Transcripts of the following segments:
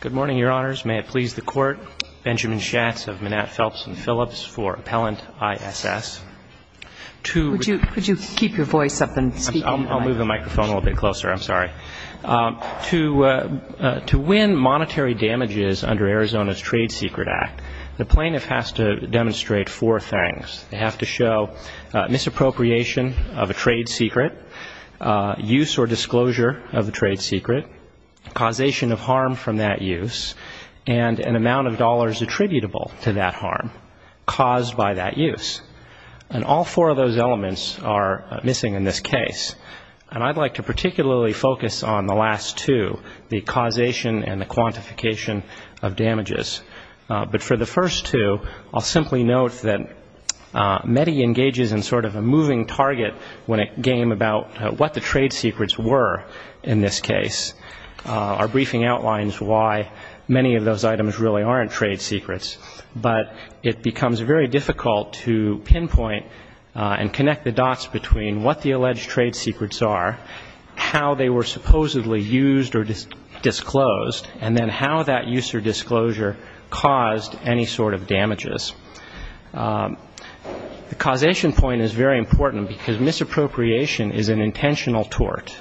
Good morning, Your Honors. May it please the Court, Benjamin Schatz of Manat, Phelps & Phillips for Appellant ISS. To win monetary damages under Arizona's Trade Secret Act, the plaintiff has to demonstrate four things. They have to show misappropriation of a trade secret, use or disclosure of a trade secret, causation of harm from that use, and an amount of dollars attributable to that harm caused by that use. And all four of those elements are missing in this case. And I'd like to particularly focus on the last two, the causation and the quantification of damages. But for the first two, I'll simply note that METI engages in sort of a moving target game about what the trade secrets were in this case. Our briefing outlines why many of those items really aren't trade secrets. But it becomes very difficult to pinpoint and connect the dots between what the alleged trade secrets are, how they were supposedly used or disclosed, and then how that use or disclosure caused any sort of misappropriation is an intentional tort.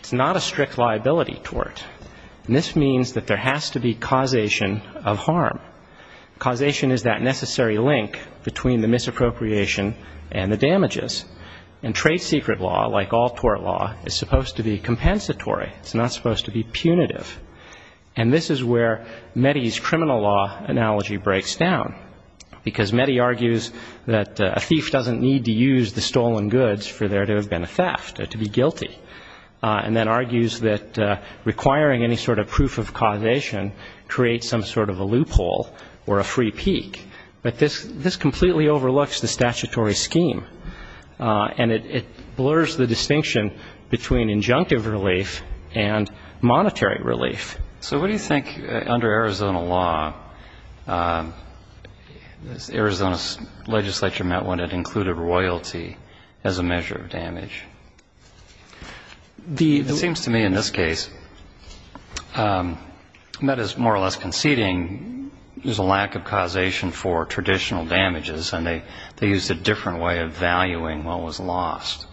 It's not a strict liability tort. And this means that there has to be causation of harm. Causation is that necessary link between the misappropriation and the damages. And trade secret law, like all tort law, is supposed to be compensatory. It's not supposed to be punitive. And this is where METI's criminal law analogy breaks down, because METI argues that a thief doesn't need to use the stolen goods for there to have been a theft or to be guilty, and then argues that requiring any sort of proof of causation creates some sort of a loophole or a free peak. But this completely overlooks the statutory scheme, and it blurs the distinction between injunctive relief and monetary relief. So what do you think, under Arizona law, Arizona's legislature met when it included royalty as a measure of damage? It seems to me in this case, METI's more or less conceding there's a lack of causation for traditional damages, and they used a different way of valuing what was lost.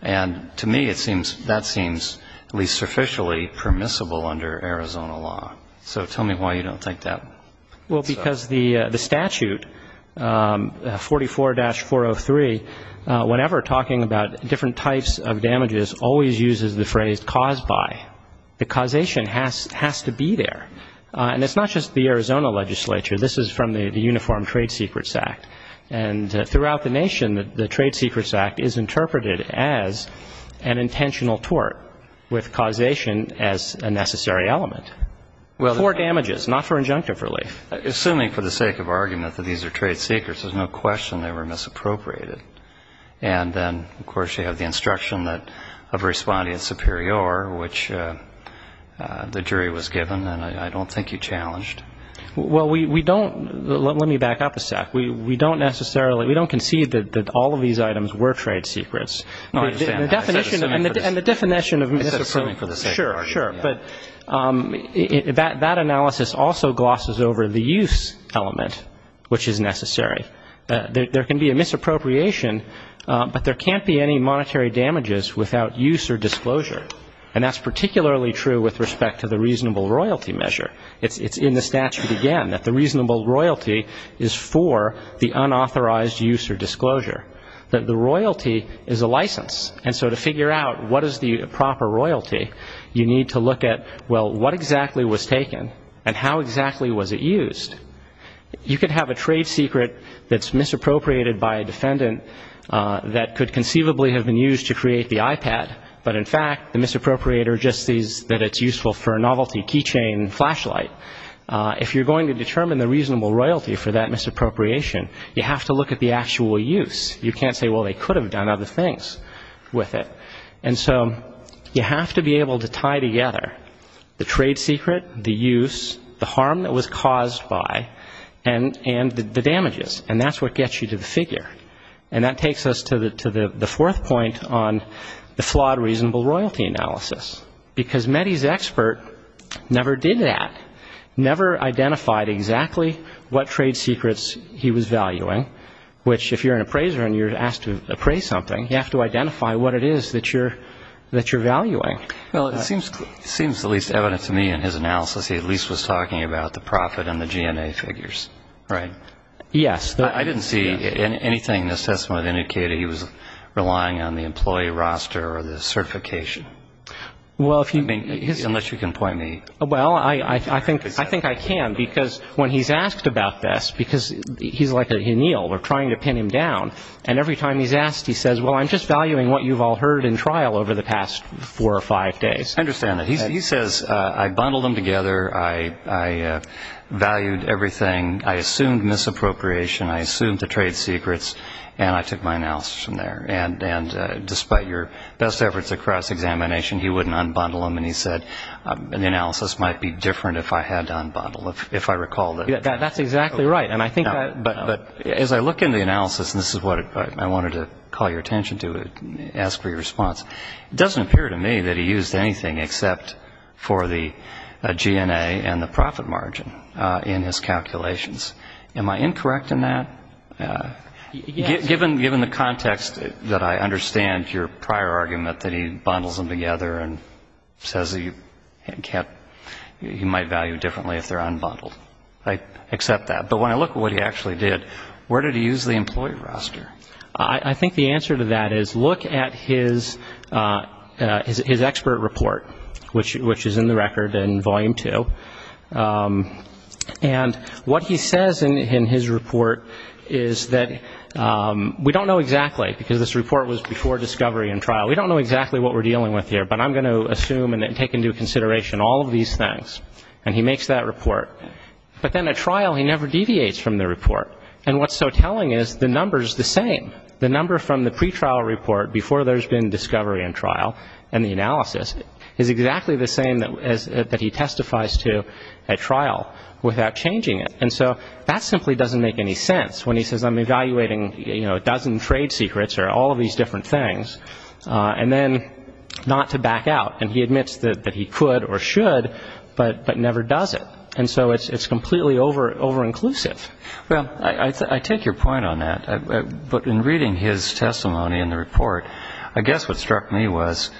And to me, it seems, that seems at least sufficiently permissible under Arizona law. So tell me why you don't think that. Well, because the statute, 44-403, whenever talking about different types of damages, always uses the phrase caused by. The causation has to be there. And it's not just the Arizona legislature. This is from the Uniform Trade Secrets Act. And throughout the nation, the Trade Secrets Act is interpreted as an intentional tort, with causation as a necessary element. For damages, not for injunctive relief. Assuming for the sake of argument that these are trade secrets, there's no question they were misappropriated. And then, of course, you have the instruction of responding superior, which the jury was given, and I don't think you challenged. Well, we don't, let me back up a sec. We don't necessarily, we don't concede that all of these items were trade secrets. And the definition of misappropriation, sure, sure. But that analysis also glosses over the use element, which is necessary. There can be a misappropriation, but there can't be any monetary damages without use or disclosure. And that's particularly true with respect to the reasonable royalty measure. It's in the statute again, that the reasonable royalty is for the unauthorized use or disclosure. That the royalty is for the unauthorized use is a license. And so to figure out what is the proper royalty, you need to look at, well, what exactly was taken, and how exactly was it used? You could have a trade secret that's misappropriated by a defendant that could conceivably have been used to create the iPad, but in fact, the misappropriator just sees that it's useful for a novelty keychain flashlight. If you're going to determine the reasonable royalty for that misappropriation, you have to look at the actual use. You can't say, well, they could have done other things with it. And so you have to be able to tie together the trade secret, the use, the harm that was caused by, and the damages. And that's what gets you to the figure. And that takes us to the fourth point on the flawed reasonable royalty analysis. Because Mehdi's expert never did that, never identified exactly what trade secrets he was valuing, or what trade secrets he was valuing, or what trade secrets he was valuing. Which, if you're an appraiser and you're asked to appraise something, you have to identify what it is that you're valuing. Well, it seems at least evident to me in his analysis, he at least was talking about the profit and the GNA figures, right? Yes. I didn't see anything in his testimony that indicated he was relying on the employee roster or the certification. Unless you can point me. Well, I think I can, because when he's asked about this, because he's like a gneel, or trying to pin him down, and every time he's asked, he says, well, I'm just valuing what you've all heard in trial over the past four or five days. I understand that. He says, I bundled them together, I valued everything, I assumed misappropriation, I assumed the trade secrets, and I took my analysis from there. And despite your best efforts at cross-examination, he wouldn't unbundle them, and he said, the analysis might be different if I had to unbundle them, if I recall. That's exactly right. But as I look in the analysis, and this is what I wanted to call your attention to, ask for your response, it doesn't appear to me that he used anything except for the GNA and the profit margin in his calculations. Am I incorrect in that? Given the context that I understand your prior argument that he bundles them together and says he might value differently if they're unbundled. I accept that. But when I look at what he actually did, where did he use the employee roster? I think the answer to that is, look at his expert report, which is in the record, in Volume 2, and what he sees in that report is that he uses the employee roster. And what he says in his report is that we don't know exactly, because this report was before discovery and trial, we don't know exactly what we're dealing with here, but I'm going to assume and take into consideration all of these things, and he makes that report. But then at trial, he never deviates from the report, and what's so telling is the number's the same. The number from the pretrial report before there's been discovery and trial and the analysis is exactly the same that he testifies to at trial without changing it. And so that simply doesn't make any sense, when he says I'm evaluating a dozen trade secrets or all of these different things, and then not to back out. And he admits that he could or should, but never does it. And so it's completely over-inclusive. Well, I take your point on that, but in reading his testimony in the report, I guess what struck me was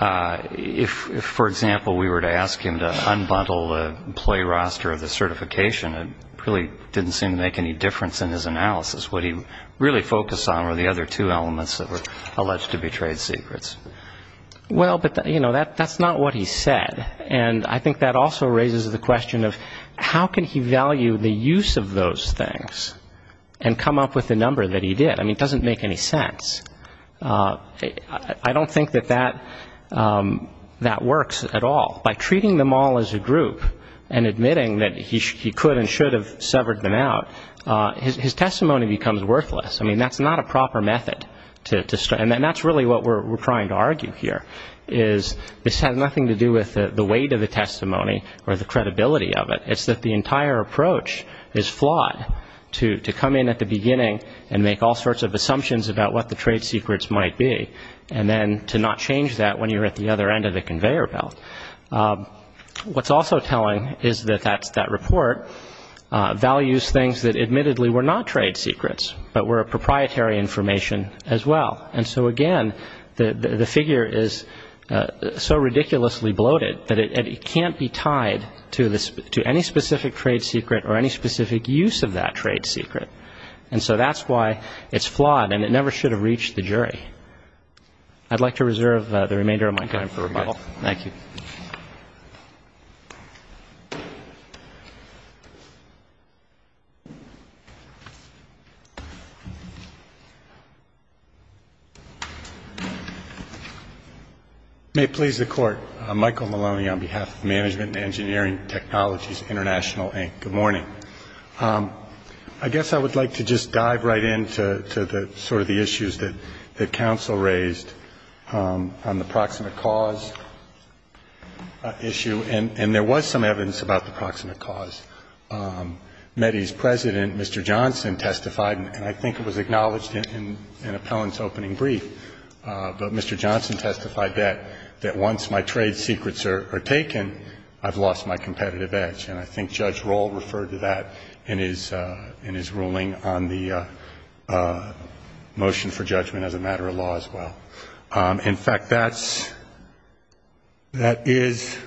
if, for example, we were to ask him to unbundle the employee roster of the certification, it would be the same thing. It really didn't seem to make any difference in his analysis. What he really focused on were the other two elements that were alleged to be trade secrets. Well, but, you know, that's not what he said, and I think that also raises the question of how can he value the use of those things and come up with the number that he did? I mean, it doesn't make any sense. I don't think that that works at all. By treating them all as a group and admitting that he could and should have severed them out, his testimony becomes worthless. I mean, that's not a proper method, and that's really what we're trying to argue here, is this has nothing to do with the weight of the testimony or the credibility of it. It's that the entire approach is flawed, to come in at the beginning and make all sorts of assumptions about what the trade secrets might be, and then to not change that when you're at the other end of the conveyor belt. What's also telling is that that report values things that admittedly were not trade secrets, but were proprietary information as well. And so, again, the figure is so ridiculously bloated that it can't be tied to any specific trade secret or any specific use of that trade secret. And so that's why it's flawed, and it never should have reached the jury. I'd like to reserve the remainder of my time for rebuttal. Michael Maloney, on behalf of Management and Engineering Technologies International, Inc. Good morning. I'd like to rebuttal, Mr. Chief Justice, on the point that the counsel raised on the proximate cause issue, and there was some evidence about the proximate cause. Mettey's president, Mr. Johnson, testified, and I think it was acknowledged in Appellant's opening brief, but Mr. Johnson testified that once my trade secrets are taken, I've lost my competitive edge. And I think Judge Rohl referred to that in his ruling on the motion for judgment as a matter of law as well. In fact, that is,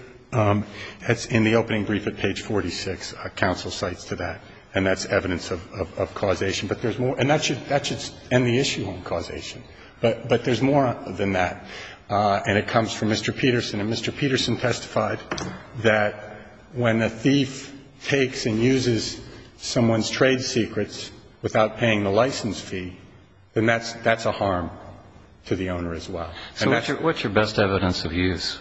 in the opening brief at page 46, counsel cites to that, and that's evidence of causation. But there's more, and that should end the issue on causation, but there's more than that. And it comes from Mr. Peterson, and Mr. Peterson testified that when a thief takes and uses someone's trade secrets without paying the license fee, then that's a harm to the owner as well. So what's your best evidence of use?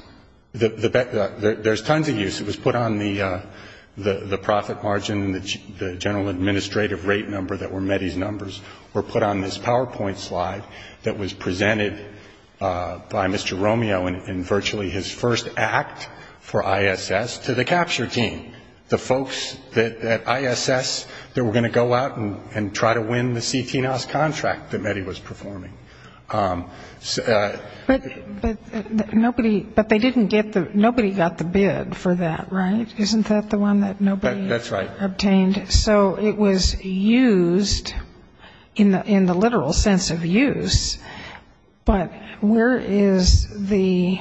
There's tons of use. It was put on the profit margin, the general administrative rate number that were Mettey's numbers, or put on this PowerPoint slide that was presented by Mr. Romeo in virtually his first act for ISS to the capture team, the folks at ISS that were going to go out and try to win the CTNOS contract that Mettey was performing. But nobody got the bid for that, right? Isn't that the one that nobody obtained? That's right. So it was used in the literal sense of use, but where is the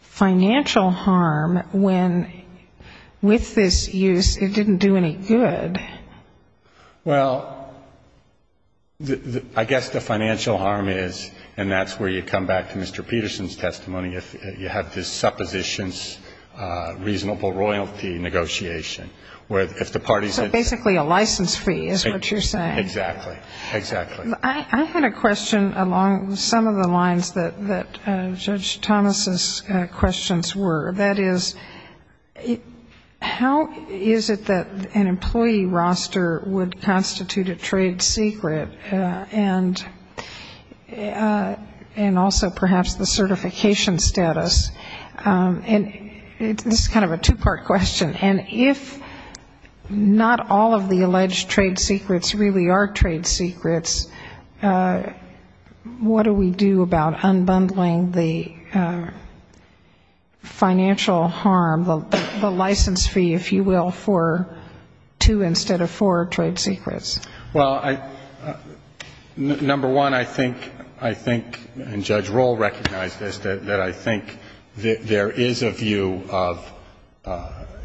financial harm when with this use it didn't do any good? Well, I guess the financial harm is, and that's where you come back to Mr. Peterson's testimony, if you have this suppositions, reasonable royalty negotiation. So basically a license fee is what you're saying. Exactly. I had a question along some of the lines that Judge Thomas's questions were. That is, how is it that an employee roster would constitute a trade secret, and also perhaps the certification status? And this is kind of a two-part question, and if not all of the alleged trade secrets really are trade secrets, what do we do about unbundling the financial harm, the license fee, if you will, for two instead of four trade secrets? Well, number one, I think, and Judge Rohl recognized this, that I think there is a view of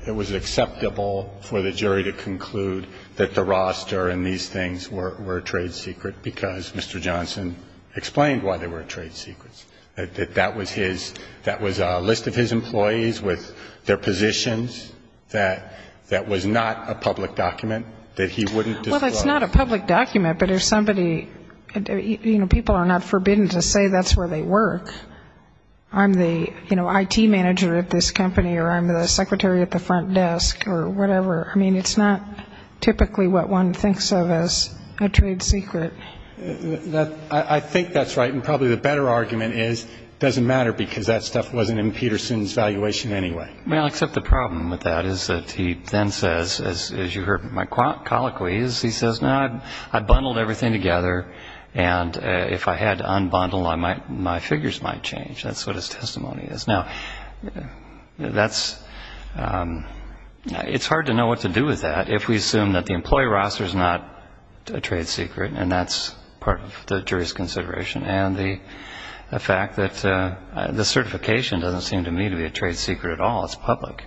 it was acceptable for the jury to conclude that the roster and these things were trade secret, because Mr. Johnson explained why they were trade secrets. That that was his, that was a list of his employees with their positions, that that was not a public document, that he wouldn't disclose. Well, that's not a public document, but if somebody, you know, people are not forbidden to say that's where they work. I'm the, you know, IT manager at this company, or I'm the secretary at the front desk, or whatever. I mean, it's not typically what one thinks of as a trade secret. I think that's right, and probably the better argument is it doesn't matter, because that stuff wasn't in Peterson's valuation anyway. Well, except the problem with that is that he then says, as you heard my colloquies, he says, no, I bundled everything together, and if I had to unbundle, my figures might change. That's what his testimony is. Now, that's, it's hard to know what to do with that if we assume that the employee roster is not a trade secret, and that's part of the jury's consideration, and the fact that the certification doesn't seem to me to be a trade secret at all, it's public.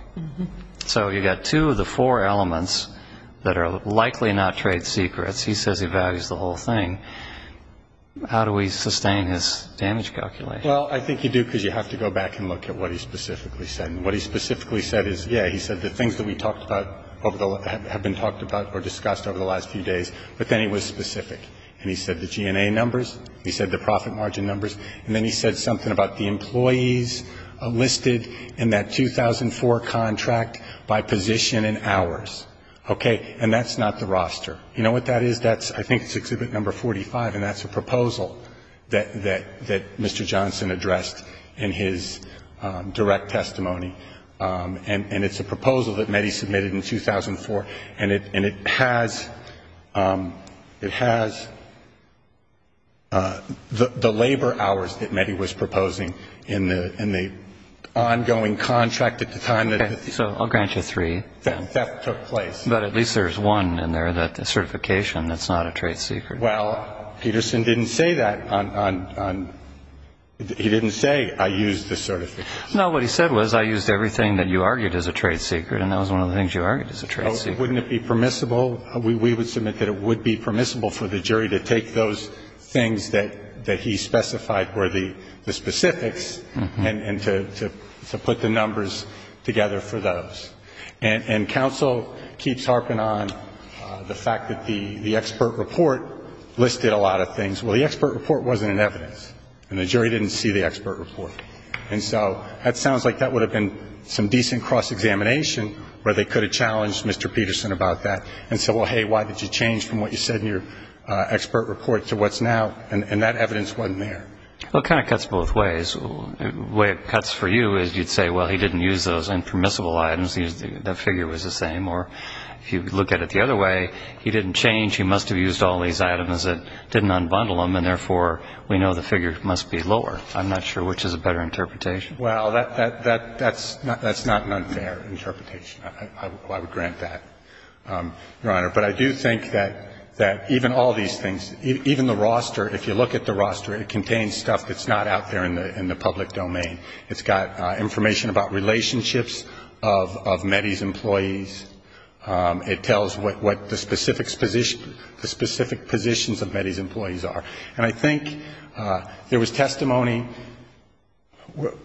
So you've got two of the four elements that are likely not trade secrets. He says he values the whole thing. How do we sustain his damage calculation? Well, I think you do, because you have to go back and look at what he specifically said. And what he specifically said is, yeah, he said the things that we talked about, have been talked about or discussed over the last few days, but then he was specific. And he said the GNA numbers, he said the profit margin numbers, and then he said something about the employees listed in that 2004 contract by position and number, and then he said the labor hours. Okay? And that's not the roster. You know what that is? That's, I think it's Exhibit No. 45, and that's a proposal that Mr. Johnson addressed in his direct testimony, and it's a proposal that METI submitted in 2004, and it has, it has the labor hours that METI was proposing in the ongoing contract at the time. Okay. So I'll grant you three. Theft took place. But at least there's one in there, that certification, that's not a trade secret. Well, Peterson didn't say that on, he didn't say, I used the certification. No, what he said was, I used everything that you argued as a trade secret, and that was one of the things you argued as a trade secret. Oh, wouldn't it be permissible? We would submit that it would be permissible for the jury to take those things that he specified were the specifics, and to put the numbers together for those. And counsel keeps harping on the fact that the expert report listed a lot of things. Well, the expert report wasn't in evidence, and the jury didn't see the expert report. And so that sounds like that would have been some decent cross-examination where they could have challenged Mr. Peterson about that and said, well, hey, why did you change from what you said in your expert report to what's now, and that evidence wasn't there. Well, it kind of cuts both ways. The way it cuts for you is you'd say, well, he didn't use those impermissible items. The figure was the same. Or if you look at it the other way, he didn't change. He must have used all these items that didn't unbundle them, and therefore, we know the figure must be lower. I'm not sure which is a better interpretation. Well, that's not an unfair interpretation. I would grant that, Your Honor. But I do think that even all these things, even the roster, if you look at the roster, it contains stuff that's not out there in the jury. It's not in the public domain. It's got information about relationships of Meddy's employees. It tells what the specific positions of Meddy's employees are. And I think there was testimony.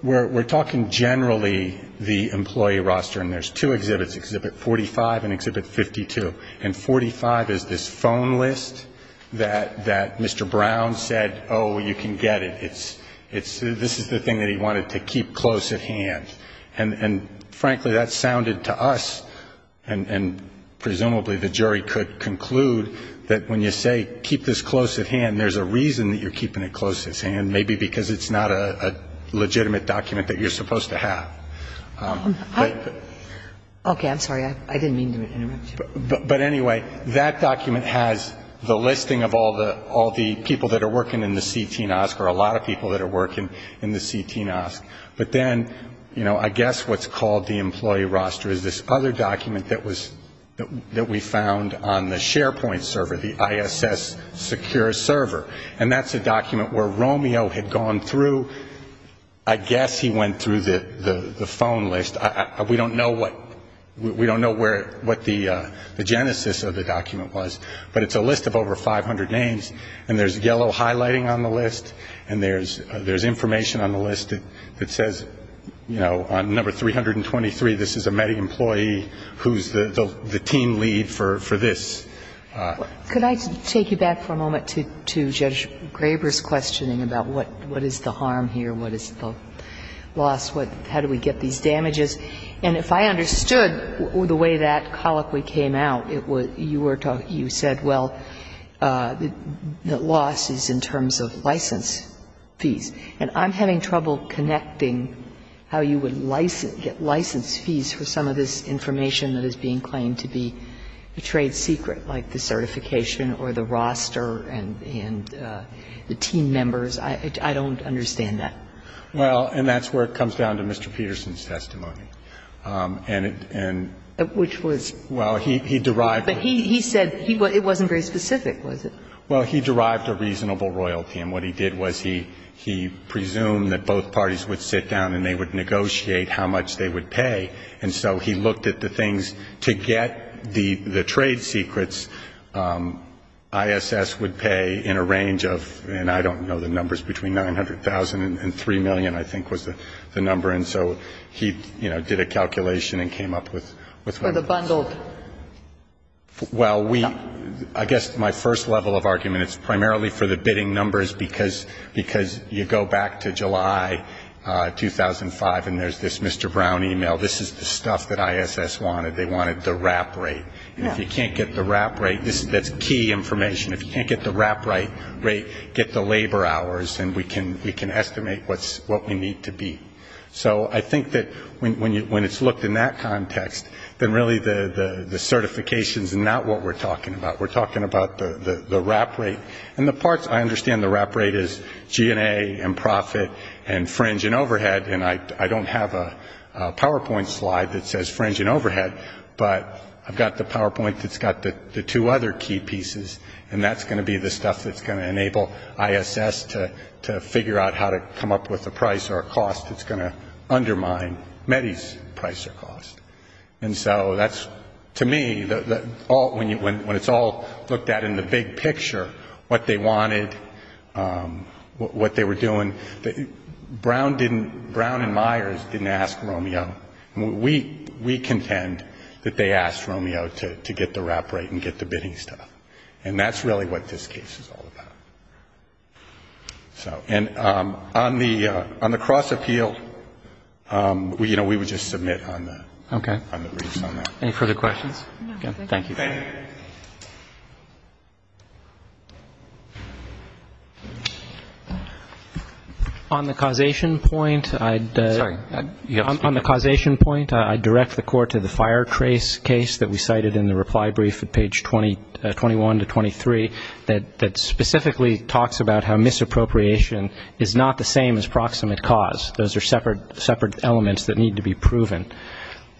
We're talking generally the employee roster, and there's two exhibits, Exhibit 45 and Exhibit 52. And 45 is this phone list that Mr. Brown said, oh, you can get it. This is the thing that he wanted to keep close at hand. And, frankly, that sounded to us, and presumably the jury could conclude, that when you say keep this close at hand, there's a reason that you're keeping it close at hand, maybe because it's not a legitimate document that you're supposed to have. Okay. I'm sorry. I didn't mean to interrupt you. But, anyway, that document has the listing of all the people that are working in the CT-NOSC or a lot of people that are working in the CT-NOSC. But then, you know, I guess what's called the employee roster is this other document that we found on the SharePoint server, the ISS secure server. And that's a document where Romeo had gone through, I guess he went through the phone list. We don't know what the genesis of the document was. But it's a list of over 500 names. And there's yellow highlighting on the list. And there's information on the list that says, you know, on number 323, this is a METI employee who's the team lead for this. Could I take you back for a moment to Judge Graber's questioning about what is the harm here, what is the loss? How do we get these damages? And if I understood the way that colloquy came out, you said, well, the loss is in terms of license fees. And I'm having trouble connecting how you would get license fees for some of this information that is being claimed to be a trade secret, like the certification or the roster and the team members. I don't understand that. Well, and that's where it comes down to Mr. Peterson's testimony. And it and Which was? Well, he derived But he said it wasn't very specific, was it? Well, he derived a reasonable royalty. And what he did was he presumed that both parties would sit down and they would negotiate how much they would pay. And so he looked at the things to get the trade secrets, ISS would pay in a range of, and I don't know the numbers, between 900,000 and 3 million, I think was the number. And so he, you know, did a calculation and came up with For the bundled Well, we, I guess my first level of argument, it's primarily for the bidding numbers because you go back to July 2005 and there's this Mr. Brown email. This is the stuff that ISS wanted. They wanted the wrap rate. If you can't get the wrap rate, that's key information. If you can't get the wrap rate, get the labor hours and we can estimate what we need to be. So I think that when it's looked in that context, then really the certification is not what we're talking about. We're talking about the wrap rate. And the parts I understand the wrap rate is G&A and profit and fringe and overhead. And I don't have a PowerPoint slide that says fringe and overhead. But I've got the PowerPoint that's got the two other key pieces. And that's going to be the stuff that's going to enable ISS to figure out how to come up with a price or a cost. It's going to undermine METI's price or cost. And so that's, to me, when it's all looked at in the big picture, what they wanted, what they were doing. Brown didn't, Brown and Myers didn't ask Romeo. We contend that they asked Romeo to get the wrap rate and get the bidding stuff. And that's really what this case is all about. So and on the cross appeal, you know, we would just submit on the briefs on that. Any further questions? No, thank you. Thank you. Thank you. On the causation point, I'd direct the court to the fire trace case that we cited in the reply brief at page 21 to 23 that specifically talks about how misappropriation is not the same as proximate cause. Those are separate elements that need to be proven.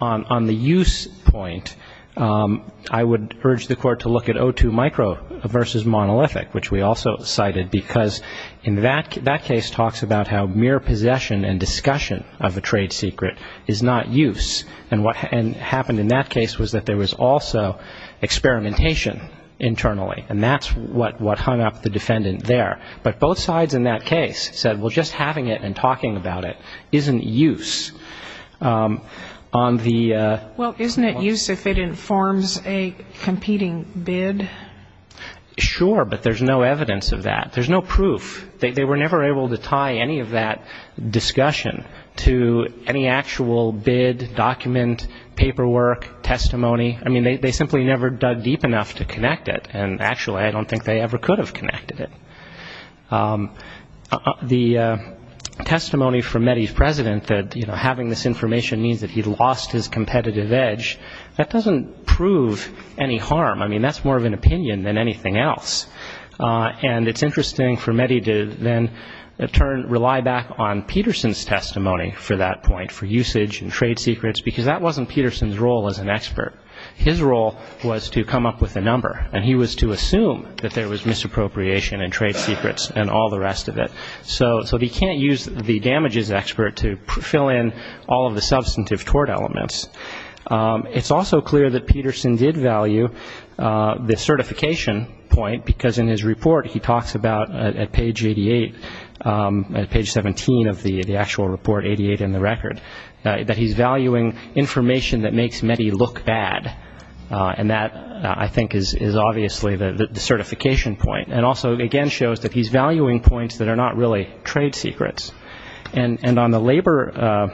On the use point, I would urge the court to look at O2 micro versus monolithic, which we also cited, because in that case talks about how mere possession and discussion of a trade secret is not use. And what happened in that case was that there was also experimentation internally, and that's what hung up the defendant there. But both sides in that case said, well, just having it and talking about it isn't use. Well, isn't it use if it informs a competing bid? Sure, but there's no evidence of that. There's no proof. They were never able to tie any of that discussion to any actual bid, document, paperwork, testimony. I mean, they simply never dug deep enough to connect it. And actually, I don't think they ever could have connected it. The testimony from Meddy's president that, you know, having this information means that he lost his competitive edge, that doesn't prove any harm. I mean, that's more of an opinion than anything else. And it's interesting for Meddy to then, in turn, rely back on Peterson's testimony for that point, for usage and trade secrets, because that wasn't Peterson's role as an expert. His role was to come up with a number, and he was to assume that there was misappropriation and trade secrets and all the rest of it. So he can't use the damages expert to fill in all of the substantive tort elements. It's also clear that Peterson did value the certification point, because in his report he talks about, at page 88, at page 17 of the actual report, 88 in the record, that he's valuing information that makes Meddy look bad. And that, I think, is obviously the certification point. And also, again, shows that he's valuing points that are not really trade secrets. And on the labor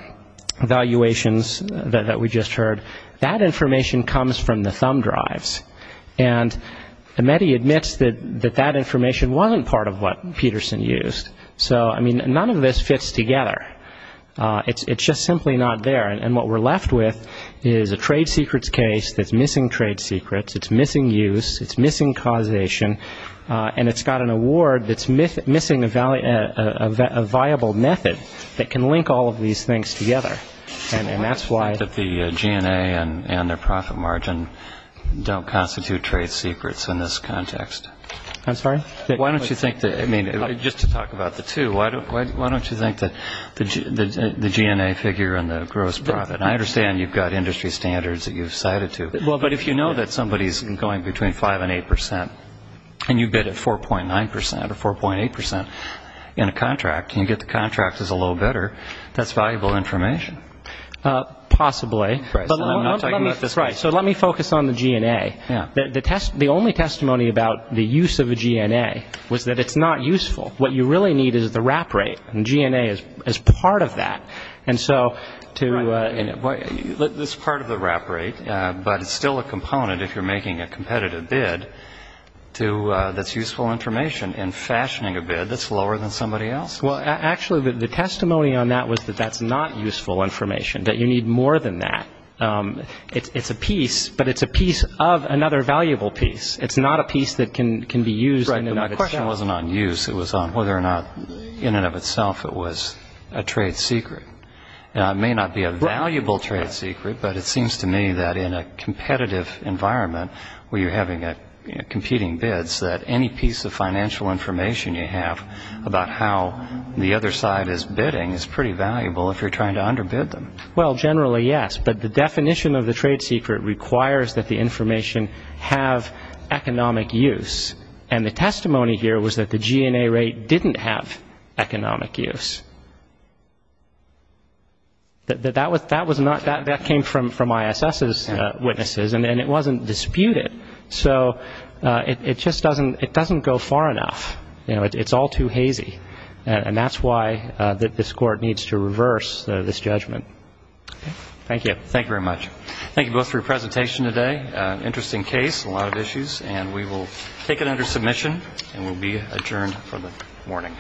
valuations that we just heard, that information comes from the thumb drives. And Meddy admits that that information wasn't part of what Peterson used. So, I mean, none of this fits together. It's just simply not there. And what we're left with is a trade secrets case that's missing trade secrets, it's missing use, it's missing causation, and it's got an award that's missing a viable method that can link all of these things together. And that's why the GNA and their profit margin don't constitute trade secrets in this context. I'm sorry? Why don't you think that, I mean, just to talk about the two, why don't you think that the GNA figure and the gross profit, and I understand you've got industry standards that you've cited to. Well, but if you know that somebody's going between 5% and 8% and you bid at 4.9% or 4.8% in a contract and you get the contract as a low bidder, that's valuable information. Possibly. Right. So let me focus on the GNA. Yeah. The only testimony about the use of a GNA was that it's not useful. What you really need is the wrap rate, and GNA is part of that. And so to – Right. It's part of the wrap rate, but it's still a component if you're making a competitive bid that's useful information. And fashioning a bid that's lower than somebody else? Well, actually, the testimony on that was that that's not useful information, that you need more than that. It's a piece, but it's a piece of another valuable piece. It's not a piece that can be used – The question wasn't on use. It was on whether or not, in and of itself, it was a trade secret. Now, it may not be a valuable trade secret, but it seems to me that in a competitive environment where you're having competing bids, that any piece of financial information you have about how the other side is bidding is pretty valuable if you're trying to underbid them. Well, generally, yes, but the definition of the trade secret requires that the information have economic use. And the testimony here was that the G&A rate didn't have economic use. That was not – that came from ISS's witnesses, and it wasn't disputed. So it just doesn't – it doesn't go far enough. You know, it's all too hazy, and that's why this Court needs to reverse this judgment. Thank you. Thank you very much. Thank you both for your presentation today. Interesting case, a lot of issues. And we will take it under submission, and we'll be adjourned for the morning.